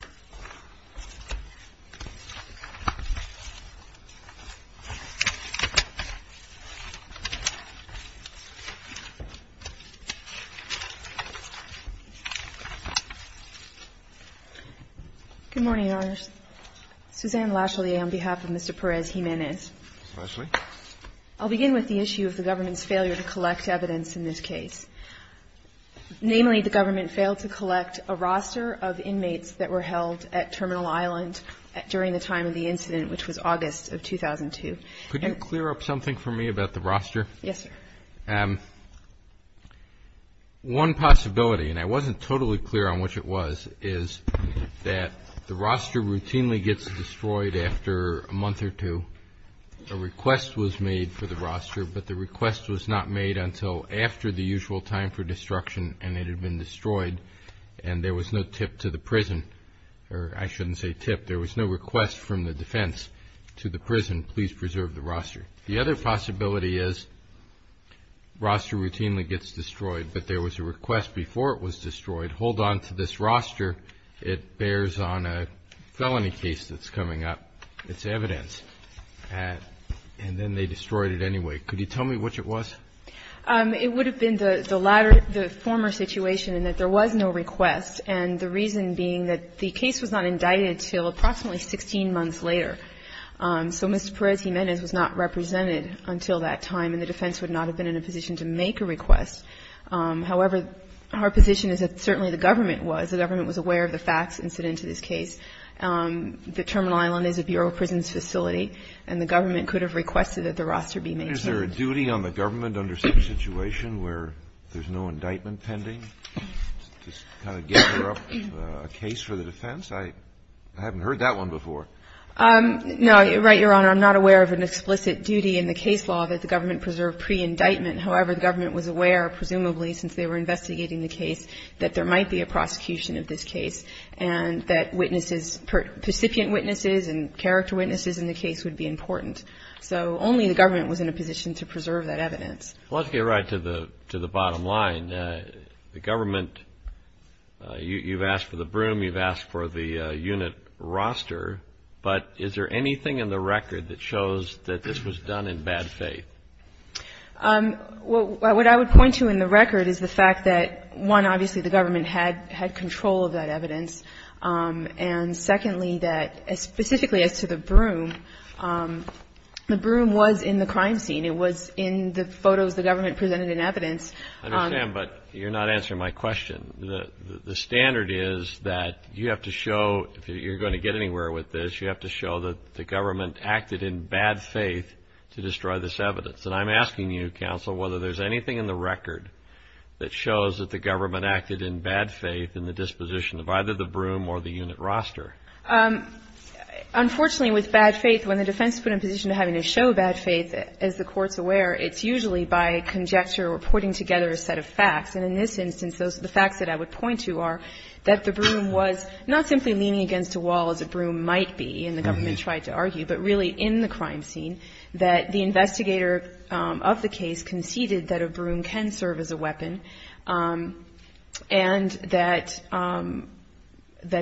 Good morning, Your Honors. Suzanne Lashley on behalf of Mr. Perez-Jimenez. Ms. Lashley. I'll begin with the issue of the government's failure to collect evidence in this case. Namely, the government failed to collect a roster of inmates that were held at Terminal Island during the time of the incident, which was August of 2002. Could you clear up something for me about the roster? Yes, sir. One possibility, and I wasn't totally clear on which it was, is that the roster routinely gets destroyed after a month or two. A request was made for the roster, but the request was not made until after the usual time for destruction, and it had been destroyed, and there was no tip to the prison, or I shouldn't say tip. There was no request from the defense to the prison, please preserve the roster. The other possibility is roster routinely gets destroyed, but there was a request before it was destroyed. If you could hold on to this roster, it bears on a felony case that's coming up. It's evidence. And then they destroyed it anyway. Could you tell me which it was? It would have been the latter, the former situation, in that there was no request, and the reason being that the case was not indicted until approximately 16 months later. So Mr. Perez-Jimenez was not represented until that time, and the defense would not have been in a position to make a request. However, our position is that certainly the government was. The government was aware of the facts incident to this case. The Terminal Island is a Bureau of Prisons facility, and the government could have requested that the roster be maintained. Is there a duty on the government under some situation where there's no indictment pending to kind of gather up a case for the defense? I haven't heard that one before. No. Right, Your Honor. I'm not aware of an explicit duty in the case law that the government preserve pre-indictment. However, the government was aware, presumably, since they were investigating the case, that there might be a prosecution of this case and that witnesses, percipient witnesses and character witnesses in the case would be important. So only the government was in a position to preserve that evidence. Let's get right to the bottom line. The government, you've asked for the broom, you've asked for the unit roster, but is there anything in the record that shows that this was done in bad faith? Well, what I would point to in the record is the fact that, one, obviously, the government had control of that evidence. And secondly, that specifically as to the broom, the broom was in the crime scene. It was in the photos the government presented in evidence. I understand, but you're not answering my question. The standard is that you have to show, if you're going to get anywhere with this, you have to show that the government acted in bad faith to destroy this evidence. And I'm asking you, counsel, whether there's anything in the record that shows that the government acted in bad faith in the disposition of either the broom or the unit roster. Unfortunately, with bad faith, when the defense is put in a position of having to show bad faith, as the Court's aware, it's usually by conjecture or putting together a set of facts. And in this instance, those are the facts that I would point to are that the broom was not simply leaning against a wall, as a broom might be, and the government tried to argue, but really in the crime scene, that the investigator of the case conceded that a broom can serve as a weapon, and that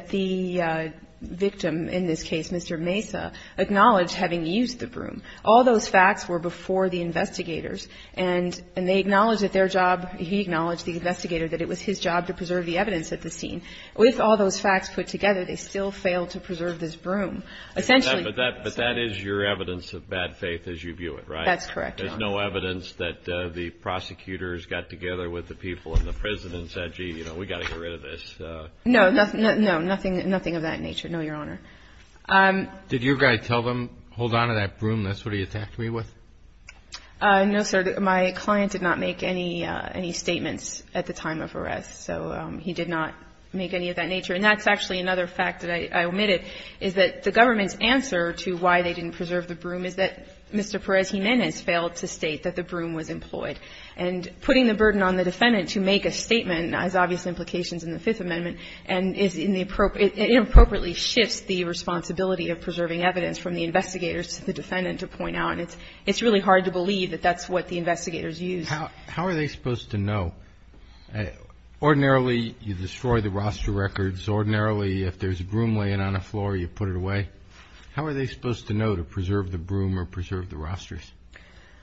the victim, in this case, Mr. Mesa, acknowledged having used the broom. All those facts were before the investigators, and they acknowledged that their job, he acknowledged, the investigator, that it was his job to preserve the evidence at the scene. With all those facts put together, they still failed to preserve this broom. Essentially. But that is your evidence of bad faith as you view it, right? That's correct, Your Honor. There's no evidence that the prosecutors got together with the people in the prison and said, gee, we've got to get rid of this. No, nothing of that nature, no, Your Honor. Did your guy tell them, hold on to that broom, that's what he attacked me with? No, sir. My client did not make any statements at the time of arrest. So he did not make any of that nature. And that's actually another fact that I omitted, is that the government's answer to why they didn't preserve the broom is that Mr. Perez Jimenez failed to state that the broom was employed. And putting the burden on the defendant to make a statement has obvious implications in the Fifth Amendment and is in the appropriate – it inappropriately shifts the responsibility of preserving evidence from the investigators to the defendant to point out. And it's really hard to believe that that's what the investigators used. How are they supposed to know? Ordinarily, you destroy the roster records. Ordinarily, if there's a broom laying on the floor, you put it away. How are they supposed to know to preserve the broom or preserve the rosters?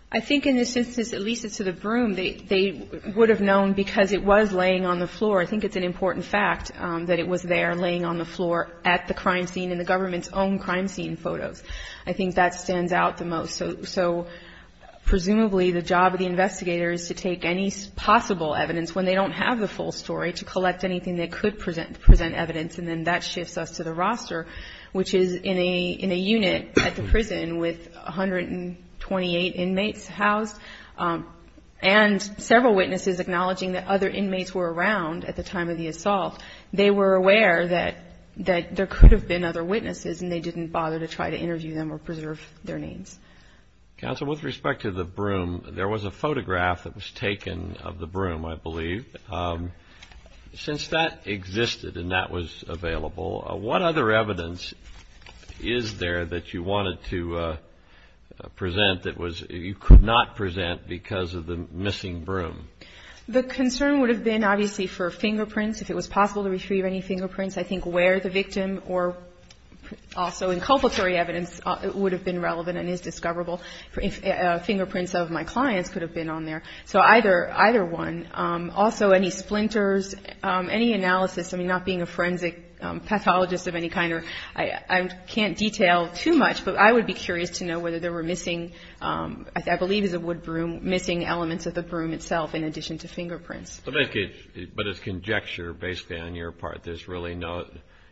I think in this instance, at least as to the broom, they would have known because it was laying on the floor. I think it's an important fact that it was there laying on the floor at the crime scene in the government's own crime scene photos. I think that stands out the most. So presumably, the job of the investigator is to take any possible evidence when they don't have the full story to collect anything that could present evidence, and then that shifts us to the roster, which is in a unit at the prison with 128 inmates housed and several witnesses acknowledging that other inmates were around at the time of the assault. They were aware that there could have been other witnesses, and they didn't bother to try to interview them or preserve their names. Counsel, with respect to the broom, there was a photograph that was taken of the broom, I believe. Since that existed and that was available, what other evidence is there that you wanted to present that you could not present because of the missing broom? The concern would have been obviously for fingerprints, if it was possible to retrieve any fingerprints. I think where the victim or also inculpatory evidence would have been relevant and is discoverable. Fingerprints of my clients could have been on there. So either one. Also, any splinters, any analysis. I mean, not being a forensic pathologist of any kind, I can't detail too much, but I would be curious to know whether there were missing, I believe it was a wood broom, missing elements of the broom itself in addition to fingerprints. But it's conjecture based on your part. There's really no,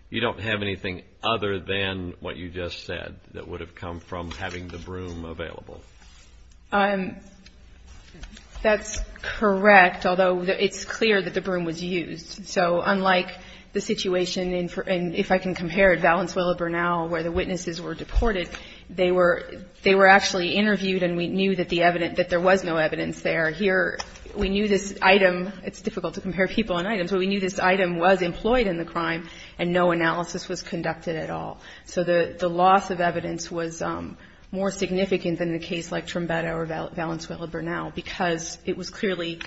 you don't have anything other than what you just said that would have come from having the broom available. That's correct, although it's clear that the broom was used. So unlike the situation in, if I can compare it, Valenzuela, Bernal, where the witnesses were deported, they were actually interviewed and we knew that the evidence, that there was no evidence there. Here, we knew this item, it's difficult to compare people on items, but we knew this item was employed in the crime and no analysis was conducted at all. So the loss of evidence was more significant than the case like Trombetta or Valenzuela-Bernal because it was clearly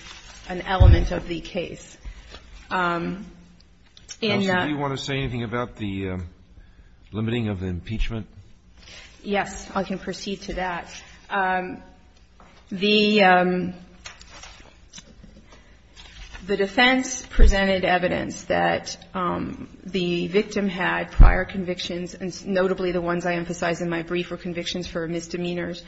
an element of the case. And that's. Do you want to say anything about the limiting of the impeachment? Yes. I can proceed to that. The defense presented evidence that the victim had prior convictions and notably the ones I emphasized in my brief were convictions for misdemeanors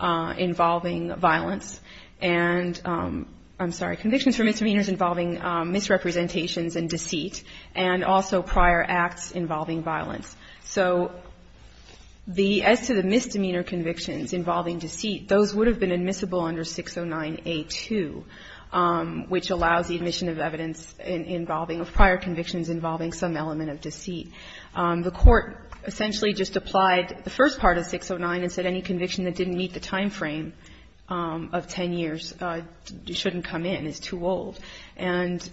involving violence and, I'm sorry, convictions for misdemeanors involving misrepresentations and deceit and also prior acts involving violence. So as to the misdemeanor convictions involving deceit, those would have been admissible under 609A2, which allows the admission of evidence involving prior convictions involving some element of deceit. The Court essentially just applied the first part of 609 and said any conviction that didn't meet the time frame of 10 years shouldn't come in. It's too old. And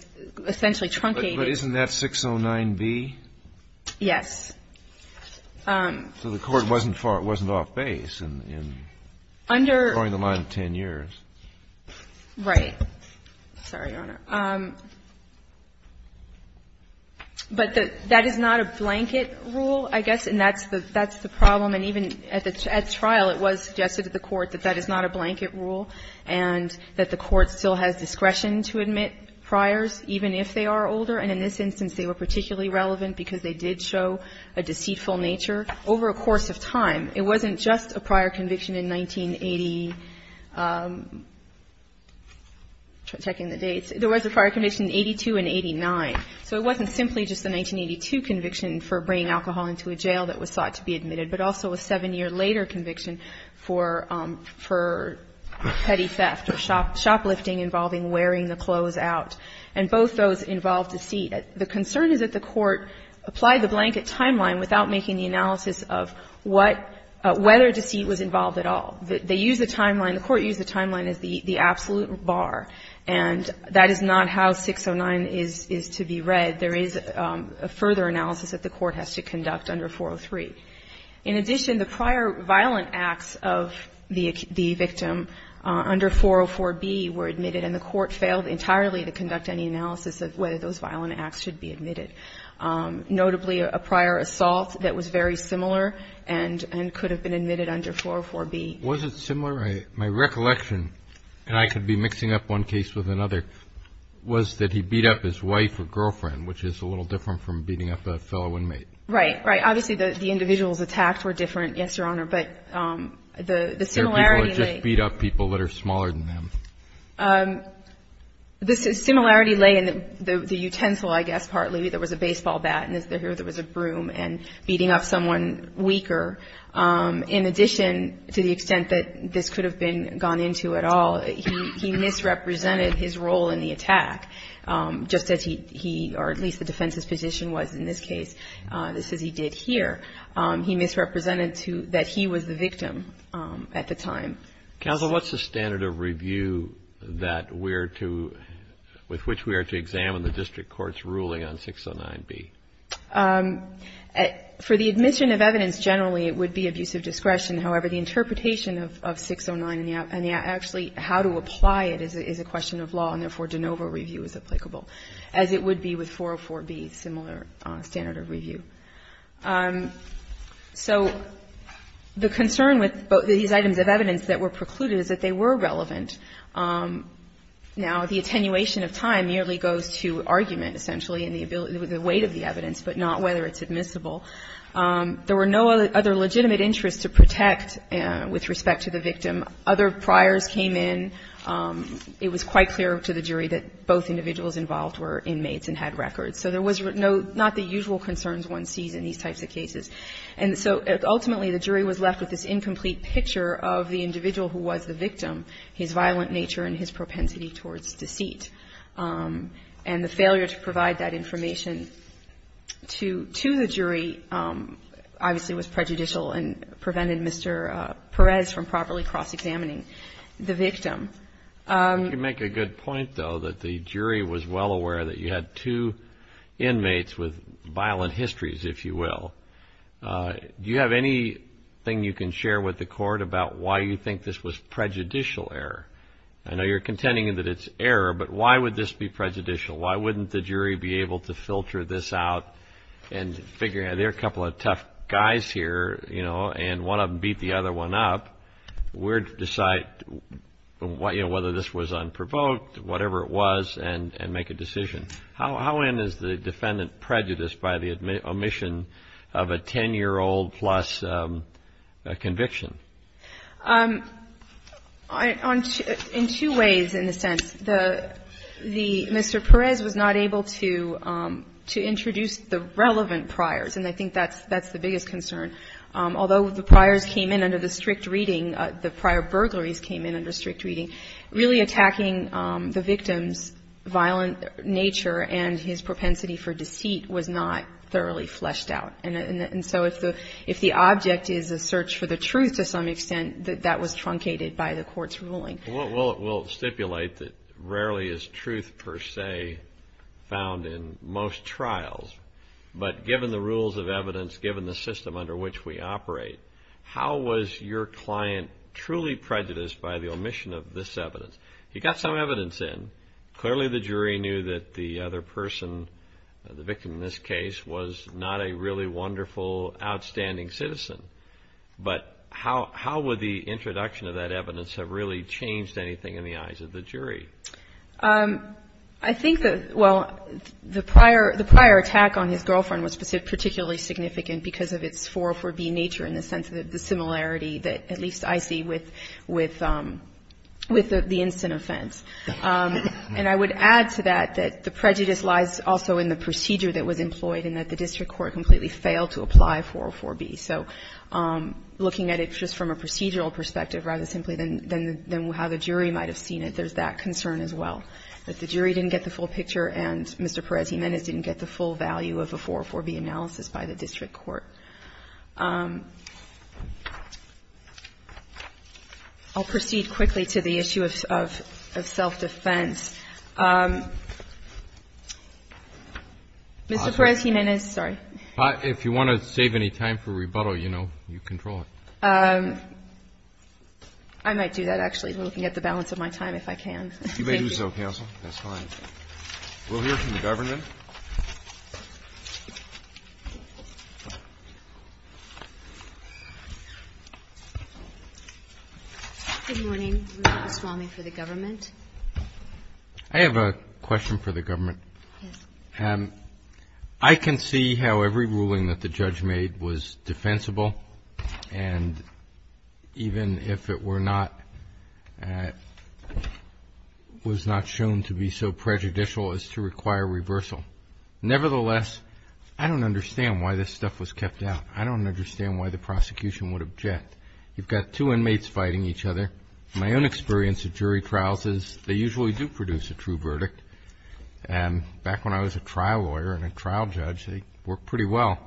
essentially truncated. But isn't that 609B? Yes. So the Court wasn't off base in drawing the line of 10 years. Right. Sorry, Your Honor. But that is not a blanket rule, I guess. And that's the problem. And even at trial it was suggested to the Court that that is not a blanket rule and that the Court still has discretion to admit priors even if they are older. And in this instance they were particularly relevant because they did show a deceitful nature over a course of time. It wasn't just a prior conviction in 1980, checking the dates. There was a prior conviction in 82 and 89. So it wasn't simply just the 1982 conviction for bringing alcohol into a jail that was sought to be admitted, but also a seven-year later conviction for petty theft or shoplifting involving wearing the clothes out. And both those involved deceit. The concern is that the Court applied the blanket timeline without making the analysis of what or whether deceit was involved at all. They used the timeline. The Court used the timeline as the absolute bar. And that is not how 609 is to be read. There is a further analysis that the Court has to conduct under 403. In addition, the prior violent acts of the victim under 404B were admitted and the Court has to conduct any analysis of whether those violent acts should be admitted. Notably, a prior assault that was very similar and could have been admitted under 404B. Was it similar? My recollection, and I could be mixing up one case with another, was that he beat up his wife or girlfriend, which is a little different from beating up a fellow inmate. Right. Right. Obviously the individuals attacked were different, yes, Your Honor. But the similarity in the ---- There are people that just beat up people that are smaller than them. The similarity lay in the utensil, I guess, partly. There was a baseball bat and here there was a broom and beating up someone weaker. In addition, to the extent that this could have been gone into at all, he misrepresented his role in the attack, just as he or at least the defense's position was in this case, just as he did here. He misrepresented that he was the victim at the time. Counsel, what's the standard of review that we're to ---- with which we are to examine the district court's ruling on 609B? For the admission of evidence, generally it would be abusive discretion. However, the interpretation of 609 and actually how to apply it is a question of law, and therefore de novo review is applicable, as it would be with 404B, similar standard of review. So the concern with these items of evidence that were precluded is that they were relevant. Now, the attenuation of time merely goes to argument, essentially, and the weight of the evidence, but not whether it's admissible. There were no other legitimate interests to protect with respect to the victim. Other priors came in. It was quite clear to the jury that both individuals involved were inmates and had records. So there was not the usual concerns one sees in these types of cases. And so ultimately the jury was left with this incomplete picture of the individual who was the victim, his violent nature and his propensity towards deceit. And the failure to provide that information to the jury obviously was prejudicial and prevented Mr. Perez from properly cross-examining the victim. You make a good point, though, that the jury was well aware that you had two inmates with violent histories, if you will. Do you have anything you can share with the court about why you think this was prejudicial error? I know you're contending that it's error, but why would this be prejudicial? Why wouldn't the jury be able to filter this out and figure out there are a couple of tough guys here, you know, and one of them beat the other one up. We're to decide whether this was unprovoked, whatever it was, and make a decision. How in is the defendant prejudiced by the omission of a 10-year-old-plus conviction? In two ways, in a sense. The Mr. Perez was not able to introduce the relevant priors, and I think that's the biggest concern. Although the priors came in under the strict reading, the prior burglaries came in under strict reading, really attacking the victim's violent nature and his propensity for deceit was not thoroughly fleshed out. And so if the object is a search for the truth to some extent, that was truncated by the court's ruling. Well, it will stipulate that rarely is truth per se found in most trials, but given the rules of evidence, given the system under which we operate, how was your client truly prejudiced by the omission of this evidence? He got some evidence in. Clearly the jury knew that the other person, the victim in this case, was not a really wonderful, outstanding citizen. But how would the introduction of that evidence have really changed anything in the eyes of the jury? I think that, well, the prior attack on his girlfriend was particularly significant because of its 404b nature in the sense of the similarity that at least I see with the instant offense. And I would add to that that the prejudice lies also in the procedure that was employed and that the district court completely failed to apply 404b. So looking at it just from a procedural perspective rather simply than how the jury might have seen it, there's that concern as well, that the jury didn't get the full picture and Mr. Perez-Jimenez didn't get the full value of a 404b analysis by the district court. I'll proceed quickly to the issue of self-defense. Mr. Perez-Jimenez, sorry. If you want to save any time for rebuttal, you know, you control it. I might do that, actually, looking at the balance of my time, if I can. You may do so, counsel. That's fine. We'll hear from the government. Good morning. Rebecca Swamy for the government. I have a question for the government. Yes. I can see how every ruling that the judge made was defensible, and even if it was not shown to be so prejudicial as to require reversal. Nevertheless, I don't understand why this stuff was kept out. I don't understand why the prosecution would object. You've got two inmates fighting each other. My own experience of jury trials is they usually do produce a true verdict. Back when I was a trial lawyer and a trial judge, they worked pretty well.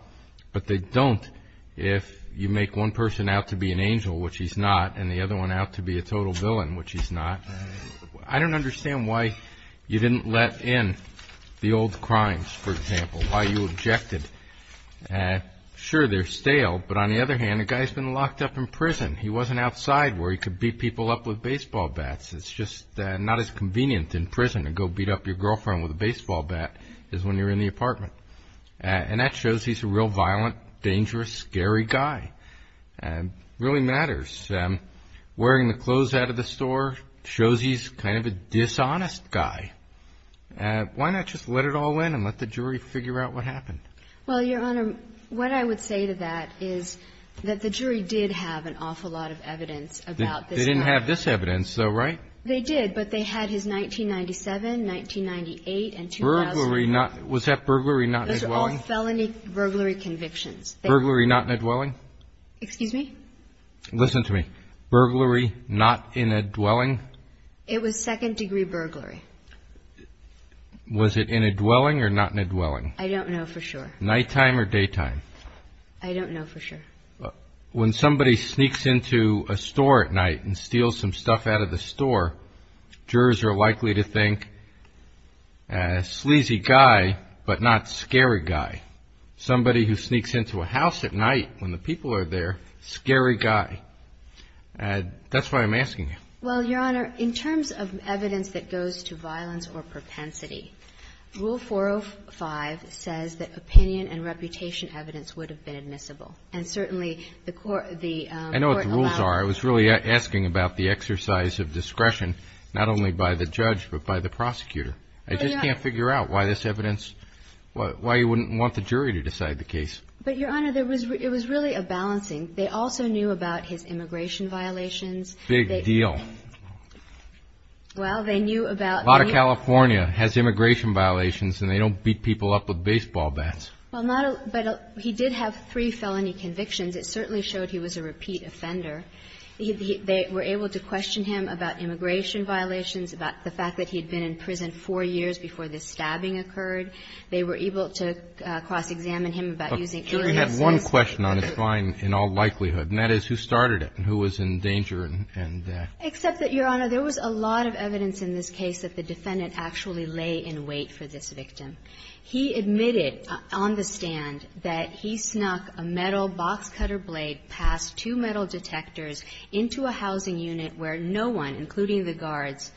But they don't if you make one person out to be an angel, which he's not, and the other one out to be a total villain, which he's not. I don't understand why you didn't let in the old crimes, for example, why you objected. Sure, they're stale, but on the other hand, the guy's been locked up in prison. He wasn't outside where he could beat people up with baseball bats. It's just not as convenient in prison to go beat up your girlfriend with a baseball bat as when you're in the apartment. And that shows he's a real violent, dangerous, scary guy. It really matters. Wearing the clothes out of the store shows he's kind of a dishonest guy. Why not just let it all in and let the jury figure out what happened? Well, Your Honor, what I would say to that is that the jury did have an awful lot of evidence about this guy. They didn't have this evidence, though, right? They did, but they had his 1997, 1998, and 2000. Was that burglary not in a dwelling? Those are all felony burglary convictions. Burglary not in a dwelling? Excuse me? Listen to me. Burglary not in a dwelling? It was second-degree burglary. Was it in a dwelling or not in a dwelling? I don't know for sure. Nighttime or daytime? I don't know for sure. When somebody sneaks into a store at night and steals some stuff out of the store, jurors are likely to think, sleazy guy, but not scary guy. Somebody who sneaks into a house at night when the people are there, scary guy. That's why I'm asking you. Well, Your Honor, in terms of evidence that goes to violence or propensity, Rule 405 says that opinion and reputation evidence would have been admissible. And certainly the court allowed it. I know what the rules are. I was really asking about the exercise of discretion, not only by the judge but by the prosecutor. I just can't figure out why this evidence, why you wouldn't want the jury to decide the case. But, Your Honor, it was really a balancing. They also knew about his immigration violations. Big deal. Well, they knew about the news. A lot of California has immigration violations, and they don't beat people up with baseball bats. Well, not a lot. But he did have three felony convictions. It certainly showed he was a repeat offender. They were able to question him about immigration violations, about the fact that he had been in prison four years before this stabbing occurred. They were able to cross-examine him about using aliases. Okay. We have one question on this line in all likelihood, and that is who started it and who was in danger and that. Except that, Your Honor, there was a lot of evidence in this case that the defendant actually lay in wait for this victim. He admitted on the stand that he snuck a metal box cutter blade past two metal detectors into a housing unit where no one, including the guards,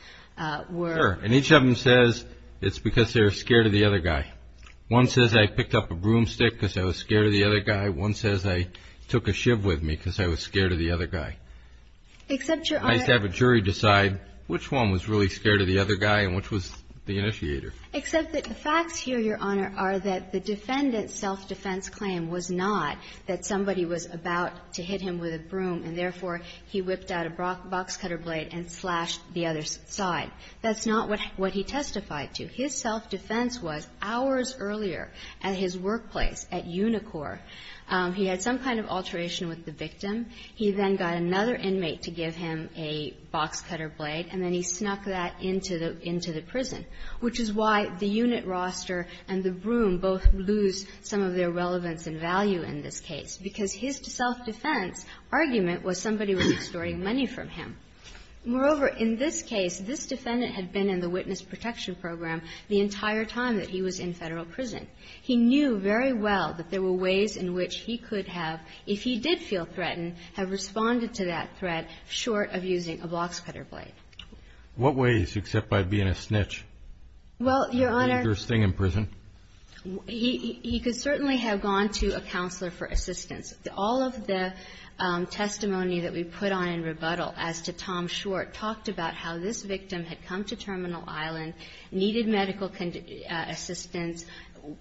were. Sure. And each of them says it's because they were scared of the other guy. One says, I picked up a broomstick because I was scared of the other guy. One says, I took a shiv with me because I was scared of the other guy. Except, Your Honor. It's nice to have a jury decide which one was really scared of the other guy and which was the initiator. Except that the facts here, Your Honor, are that the defendant's self-defense claim was not that somebody was about to hit him with a broom and, therefore, he whipped out a box cutter blade and slashed the other side. That's not what he testified to. His self-defense was hours earlier at his workplace at Unicor. He had some kind of alteration with the victim. He then got another inmate to give him a box cutter blade, and then he snuck that into the prison, which is why the unit roster and the broom both lose some of their relevance and value in this case, because his self-defense argument was somebody was extorting money from him. Moreover, in this case, this defendant had been in the witness protection program the entire time that he was in Federal prison. He knew very well that there were ways in which he could have, if he did feel threatened, have responded to that threat short of using a box cutter blade. What ways, except by being a snitch? Well, Your Honor He could certainly have gone to a counselor for assistance. All of the testimony that we put on in rebuttal as to Tom Short talked about how this victim had come to Terminal Island, needed medical assistance,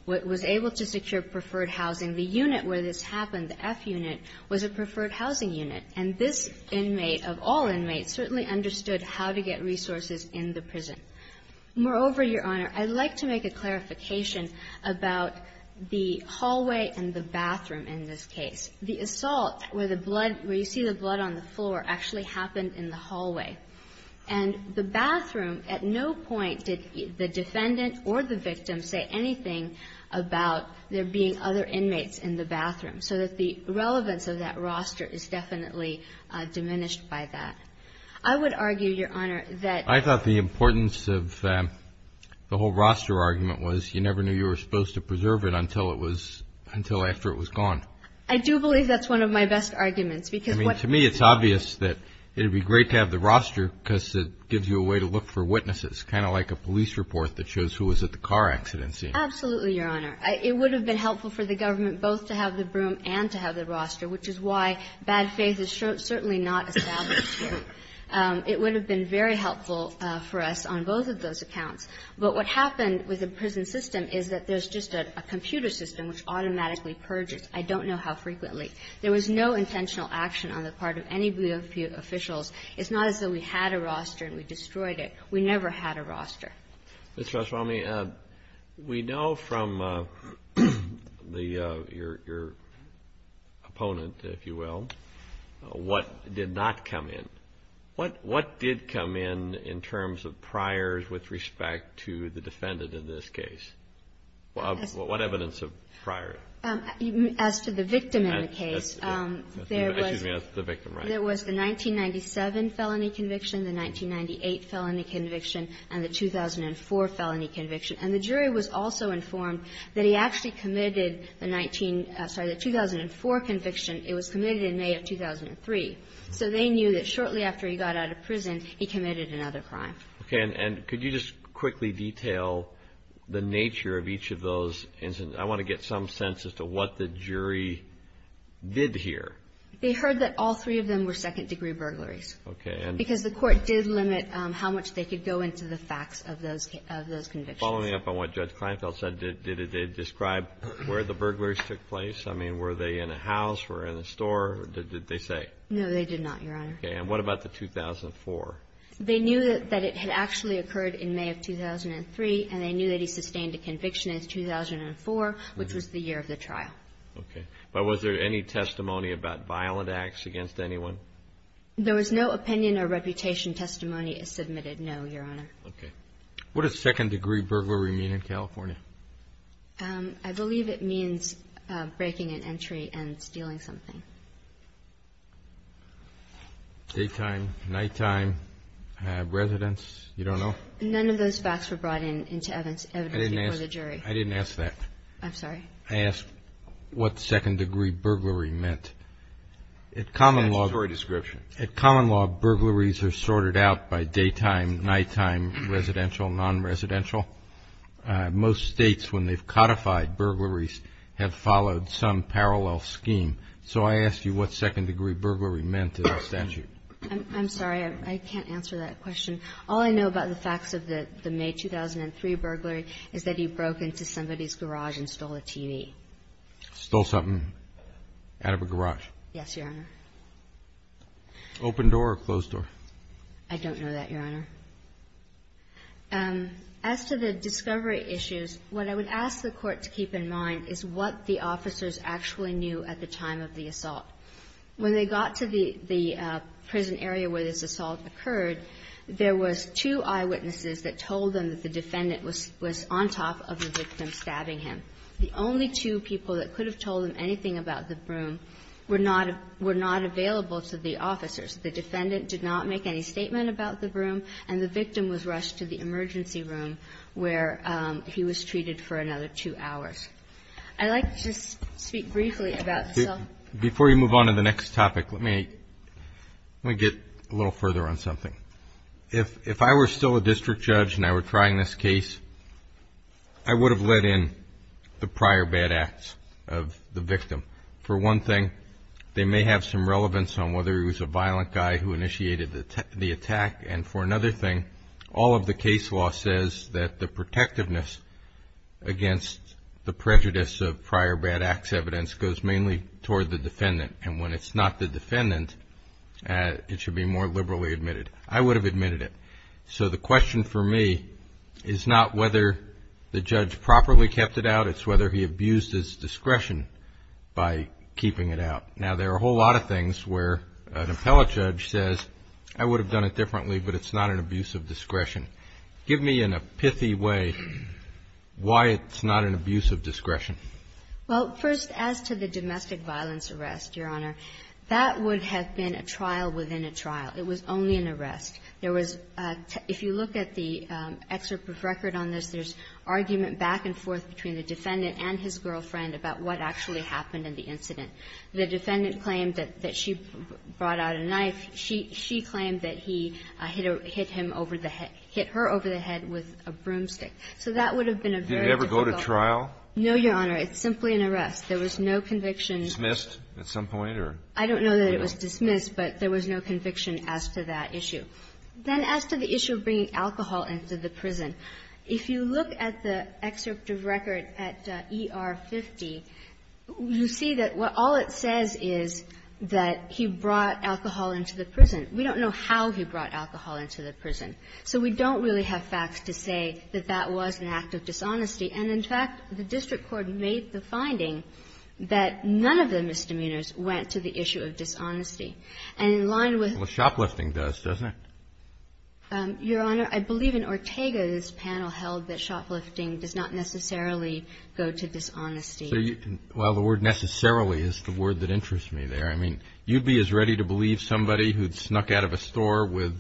was able to secure preferred housing. The unit where this happened, the F unit, was a preferred housing unit. And this inmate, of all inmates, certainly understood how to get resources in the prison. Moreover, Your Honor, I'd like to make a clarification about the hallway and the bathroom in this case. The assault, where the blood, where you see the blood on the floor, actually happened in the hallway. And the bathroom, at no point did the defendant or the victim say anything about there being other inmates in the bathroom, so that the relevance of that roster is definitely diminished by that. I would argue, Your Honor, that I thought the importance of the whole roster argument was you never knew you were supposed to preserve it until it was until after it was gone. I do believe that's one of my best arguments, because to me it's obvious that it would be great to have the roster because it gives you a way to look for witnesses, kind of like a police report that shows who was at the car accident scene. Absolutely, Your Honor. It would have been helpful for the government both to have the broom and to have the bad faith is certainly not established here. It would have been very helpful for us on both of those accounts. But what happened with the prison system is that there's just a computer system which automatically purges. I don't know how frequently. There was no intentional action on the part of any of the officials. It's not as though we had a roster and we destroyed it. We never had a roster. Ms. Treswami, we know from your opponent, if you will, what did not come in. What did come in in terms of priors with respect to the defendant in this case? What evidence of priors? As to the victim in the case, there was the 1997 felony conviction, the 1998 felony conviction, and the 2004 felony conviction. And the jury was also informed that he actually committed the 2004 conviction. It was committed in May of 2003. So they knew that shortly after he got out of prison, he committed another crime. Okay, and could you just quickly detail the nature of each of those instances? I want to get some sense as to what the jury did hear. They heard that all three of them were second degree burglaries. Okay, and? Because the court did limit how much they could go into the facts of those convictions. Following up on what Judge Kleinfeld said, did it describe where the burglaries took place? I mean, were they in a house, were they in a store, did they say? No, they did not, Your Honor. Okay, and what about the 2004? They knew that it had actually occurred in May of 2003, and they knew that he sustained a conviction in 2004, which was the year of the trial. Okay, but was there any testimony about violent acts against anyone? There was no opinion or reputation testimony is submitted, no, Your Honor. Okay. What does second degree burglary mean in California? I believe it means breaking an entry and stealing something. Daytime, nighttime, residence, you don't know? None of those facts were brought into evidence before the jury. I didn't ask that. I'm sorry? I asked what second degree burglary meant. At common law, burglaries are sorted out by daytime, nighttime, residential, non-residential. Most states, when they've codified burglaries, have followed some parallel scheme, so I asked you what second degree burglary meant in the statute. I'm sorry, I can't answer that question. All I know about the facts of the May 2003 burglary is that he broke into somebody's garage and stole a TV. Stole something out of a garage? Yes, Your Honor. Open door or closed door? I don't know that, Your Honor. As to the discovery issues, what I would ask the court to keep in mind is what the officers actually knew at the time of the assault. When they got to the prison area where this assault occurred, there was two eyewitnesses that told them that the defendant was on top of the victim stabbing him. The only two people that could have told them anything about the broom were not available to the officers. The defendant did not make any statement about the broom, and the victim was rushed to the emergency room where he was treated for another two hours. I'd like to just speak briefly about the cell. Before you move on to the next topic, let me get a little further on something. If I were still a district judge and I were trying this case, I would have let in the prior bad acts of the victim. For one thing, they may have some relevance on whether he was a violent guy who initiated the attack. And for another thing, all of the case law says that the protectiveness against the prejudice of prior bad acts evidence goes mainly toward the defendant. And when it's not the defendant, it should be more liberally admitted. I would have admitted it. So the question for me is not whether the judge properly kept it out, it's whether he abused his discretion by keeping it out. Now, there are a whole lot of things where an appellate judge says, I would have done it differently, but it's not an abuse of discretion. Give me in a pithy way why it's not an abuse of discretion. Well, first, as to the domestic violence arrest, Your Honor, that would have been a trial within a trial. It was only an arrest. There was – if you look at the excerpt of record on this, there's argument back and forth between the defendant and his girlfriend about what actually happened in the incident. The defendant claimed that she brought out a knife. She claimed that he hit him over the head – hit her over the head with a broomstick. So that would have been a very difficult – Did it ever go to trial? No, Your Honor. It's simply an arrest. There was no conviction. Dismissed at some point or – I don't know that it was dismissed, but there was no conviction as to that issue. Then as to the issue of bringing alcohol into the prison, if you look at the excerpt of record at ER 50, you see that what – all it says is that he brought alcohol into the prison. We don't know how he brought alcohol into the prison. So we don't really have facts to say that that was an act of dishonesty. And, in fact, the district court made the finding that none of the misdemeanors went to the issue of dishonesty. And in line with – Well, shoplifting does, doesn't it? Your Honor, I believe in Ortega's panel held that shoplifting does not necessarily go to dishonesty. So you – well, the word necessarily is the word that interests me there. I mean, you'd be as ready to believe somebody who'd snuck out of a store with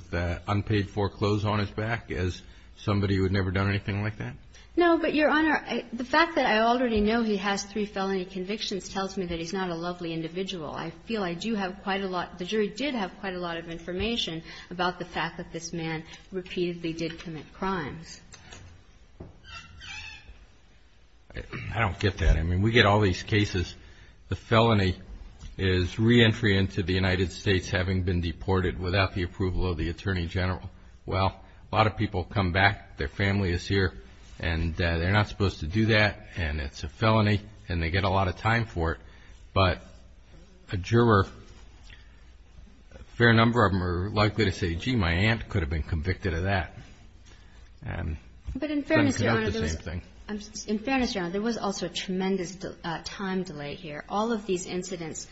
unpaid foreclothes on his back as somebody who had never done anything like that? No, but, Your Honor, the fact that I already know he has three felony convictions tells me that he's not a lovely individual. I feel I do have quite a lot – the jury did have quite a lot of information about the fact that this man repeatedly did commit crimes. I don't get that. I mean, we get all these cases. The felony is reentry into the United States having been deported without the approval of the Attorney General. Well, a lot of people come back, their family is here, and they're not supposed to do that, and it's a felony, and they get a lot of time for it. But a juror, a fair number of them are likely to say, gee, my aunt could have been convicted of that. But in fairness, Your Honor, there was also a tremendous time delay here. All of these incidences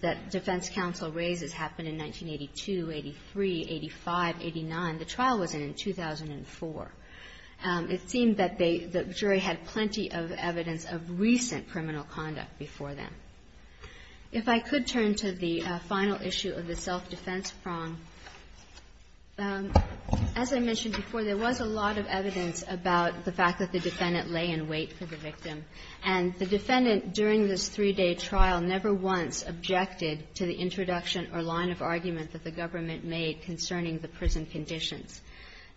that defense counsel raises happened in 1982, 83, 85, 89. The trial was in in 2004. It seemed that they – the jury had plenty of time to go through and there was plenty of evidence of recent criminal conduct before then. If I could turn to the final issue of the self-defense prong, as I mentioned before, there was a lot of evidence about the fact that the defendant lay in wait for the victim. And the defendant, during this three-day trial, never once objected to the introduction or line of argument that the government made concerning the prison conditions.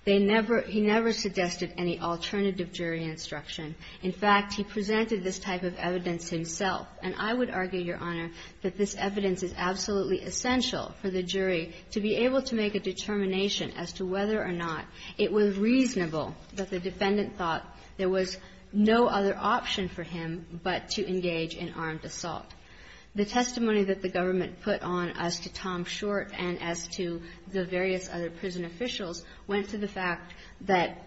They never – he never suggested any alternative jury instruction. In fact, he presented this type of evidence himself. And I would argue, Your Honor, that this evidence is absolutely essential for the jury to be able to make a determination as to whether or not it was reasonable that the defendant thought there was no other option for him but to engage in armed assault. The testimony that the government put on as to Tom Short and as to the various other prison officials was that the jury went to the fact that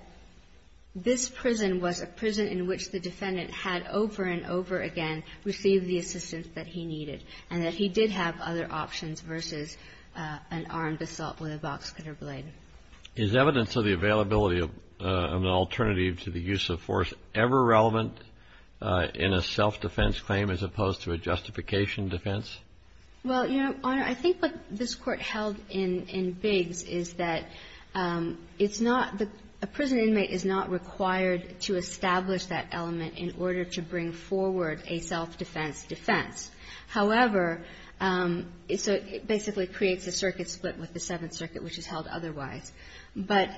this prison was a prison in which the defendant had over and over again received the assistance that he needed and that he did have other options versus an armed assault with a boxcutter blade. Is evidence of the availability of an alternative to the use of force ever relevant in a self-defense claim as opposed to a justification defense? Well, Your Honor, I think what this Court held in Biggs is that it's not the – a prison inmate is not required to establish that element in order to bring forward a self-defense defense. However, so it basically creates a circuit split with the Seventh Circuit, which is held otherwise. But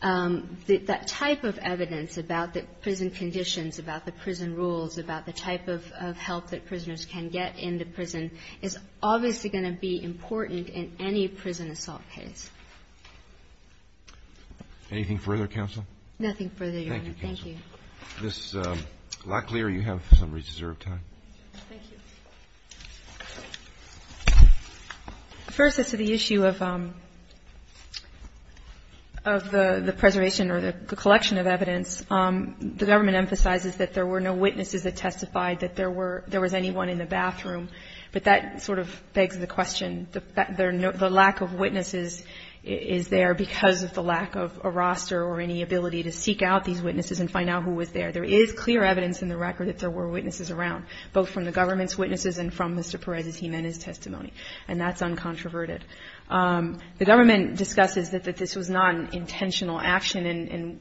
that type of evidence about the prison conditions, about the prison rules, about the type of help that prisoners can get in the prison is obviously going to be important in any prison assault case. Anything further, Counsel? Nothing further, Your Honor. Thank you, Counsel. Ms. Locklear, you have some reserved time. Thank you. First, as to the issue of the preservation or the collection of evidence, the government emphasizes that there were no witnesses that testified that there were – there was not anyone in the bathroom. But that sort of begs the question. The lack of witnesses is there because of the lack of a roster or any ability to seek out these witnesses and find out who was there. There is clear evidence in the record that there were witnesses around, both from the government's witnesses and from Mr. Perez's – he meant his testimony. And that's uncontroverted. The government discusses that this was not an intentional action, and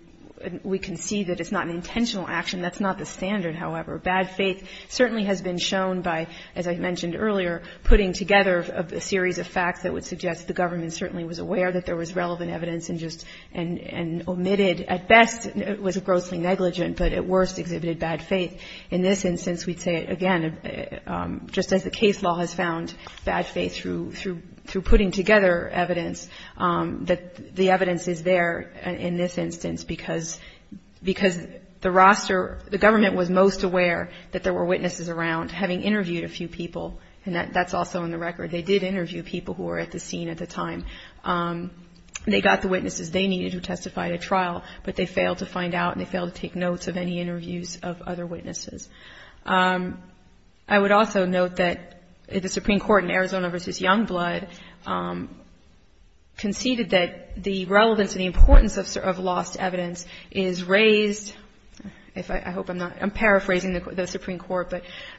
we can see that it's not an intentional action. That's not the standard, however. Bad faith certainly has been shown by, as I mentioned earlier, putting together a series of facts that would suggest the government certainly was aware that there was relevant evidence and just – and omitted. At best, it was grossly negligent, but at worst, exhibited bad faith. In this instance, we'd say, again, just as the case law has found bad faith through putting together evidence, that the evidence is there in this instance because – because the roster – the government was most aware that there were witnesses around, having interviewed a few people. And that's also in the record. They did interview people who were at the scene at the time. They got the witnesses they needed who testified at trial, but they failed to find out and they failed to take notes of any interviews of other witnesses. I would also note that the Supreme Court in Arizona v. Youngblood conceded that the relevance and the importance of lost evidence is raised – I hope I'm not – I'm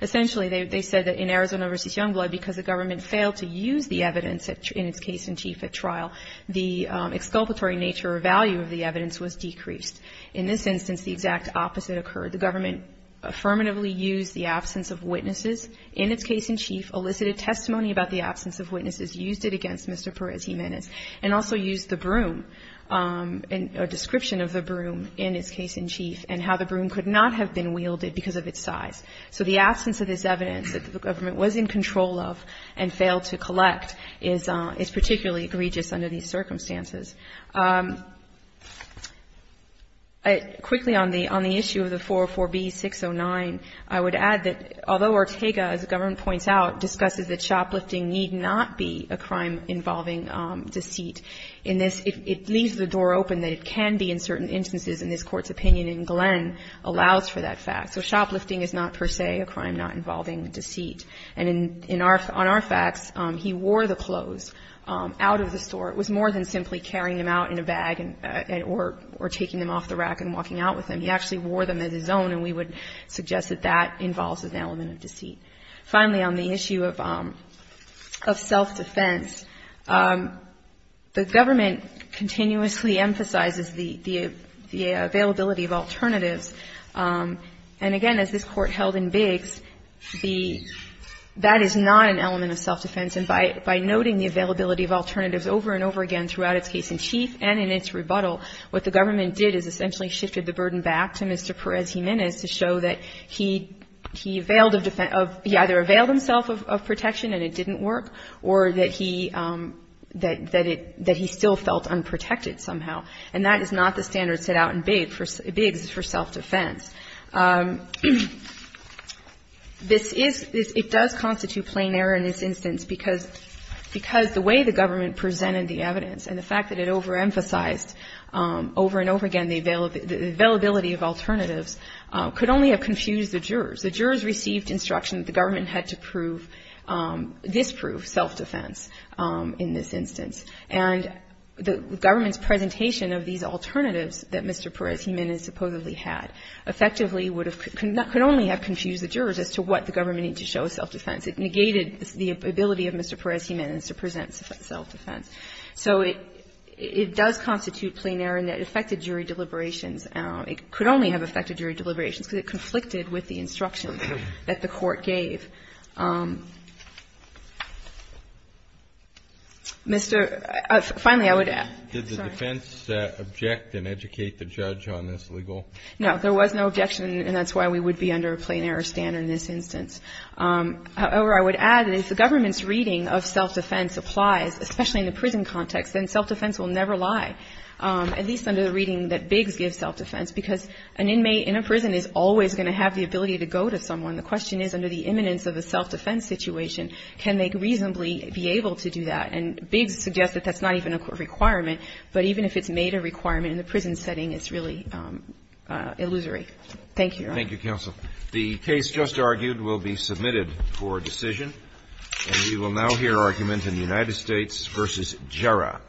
Essentially, they said that in Arizona v. Youngblood, because the government failed to use the evidence in its case in chief at trial, the exculpatory nature or value of the evidence was decreased. In this instance, the exact opposite occurred. The government affirmatively used the absence of witnesses in its case in chief, elicited testimony about the absence of witnesses, used it against Mr. Perez Jimenez, and also used the broom – a description of the broom in its case in chief and how the broom could not have been wielded because of its size. So the absence of this evidence that the government was in control of and failed to collect is particularly egregious under these circumstances. Quickly, on the issue of the 404b-609, I would add that although Ortega, as the government points out, discusses that shoplifting need not be a crime involving deceit in this, it leaves the door open that it can be in certain instances, and this Court's opinion in Glenn allows for that fact. So shoplifting is not per se a crime not involving deceit. And in our – on our facts, he wore the clothes out of the store. It was more than simply carrying them out in a bag or taking them off the rack and walking out with them. He actually wore them as his own, and we would suggest that that involves an element of deceit. Finally, on the issue of self-defense, the government continuously emphasizes the availability of alternatives. And again, as this Court held in Biggs, the – that is not an element of self-defense, and by noting the availability of alternatives over and over again throughout its case in chief and in its rebuttal, what the government did is essentially shifted the burden back to Mr. Perez Jimenez to show that he – he availed of – he either availed himself of protection and it didn't work, or that he – that it – that he still felt unprotected somehow. And that is not the standard set out in Biggs for self-defense. This is – it does constitute plain error in this instance because – because the way the government presented the evidence and the fact that it overemphasized over and over again the availability of alternatives could only have confused the jurors. The jurors received instruction that the government had to prove – disprove self-defense in this instance. And the government's presentation of these alternatives that Mr. Perez Jimenez supposedly had effectively would have – could only have confused the jurors as to what the government needed to show as self-defense. It negated the ability of Mr. Perez Jimenez to present self-defense. So it – it does constitute plain error in that it affected jury deliberations. It could only have affected jury deliberations because it conflicted with the instructions that the Court gave. Mr. – finally, I would add – sorry. Did the defense object and educate the judge on this legal – No. There was no objection, and that's why we would be under a plain error standard in this instance. However, I would add that if the government's reading of self-defense applies, especially in the prison context, then self-defense will never lie, at least under the reading that Biggs gives self-defense, because an inmate in a prison is always going to have the ability to go to someone. The question is, under the imminence of a self-defense situation, can they reasonably be able to do that? And Biggs suggests that that's not even a requirement, but even if it's made a requirement in the prison setting, it's really illusory. Thank you. Thank you, counsel. The case just argued will be submitted for decision. And we will now hear argument in United States v. Jarrah.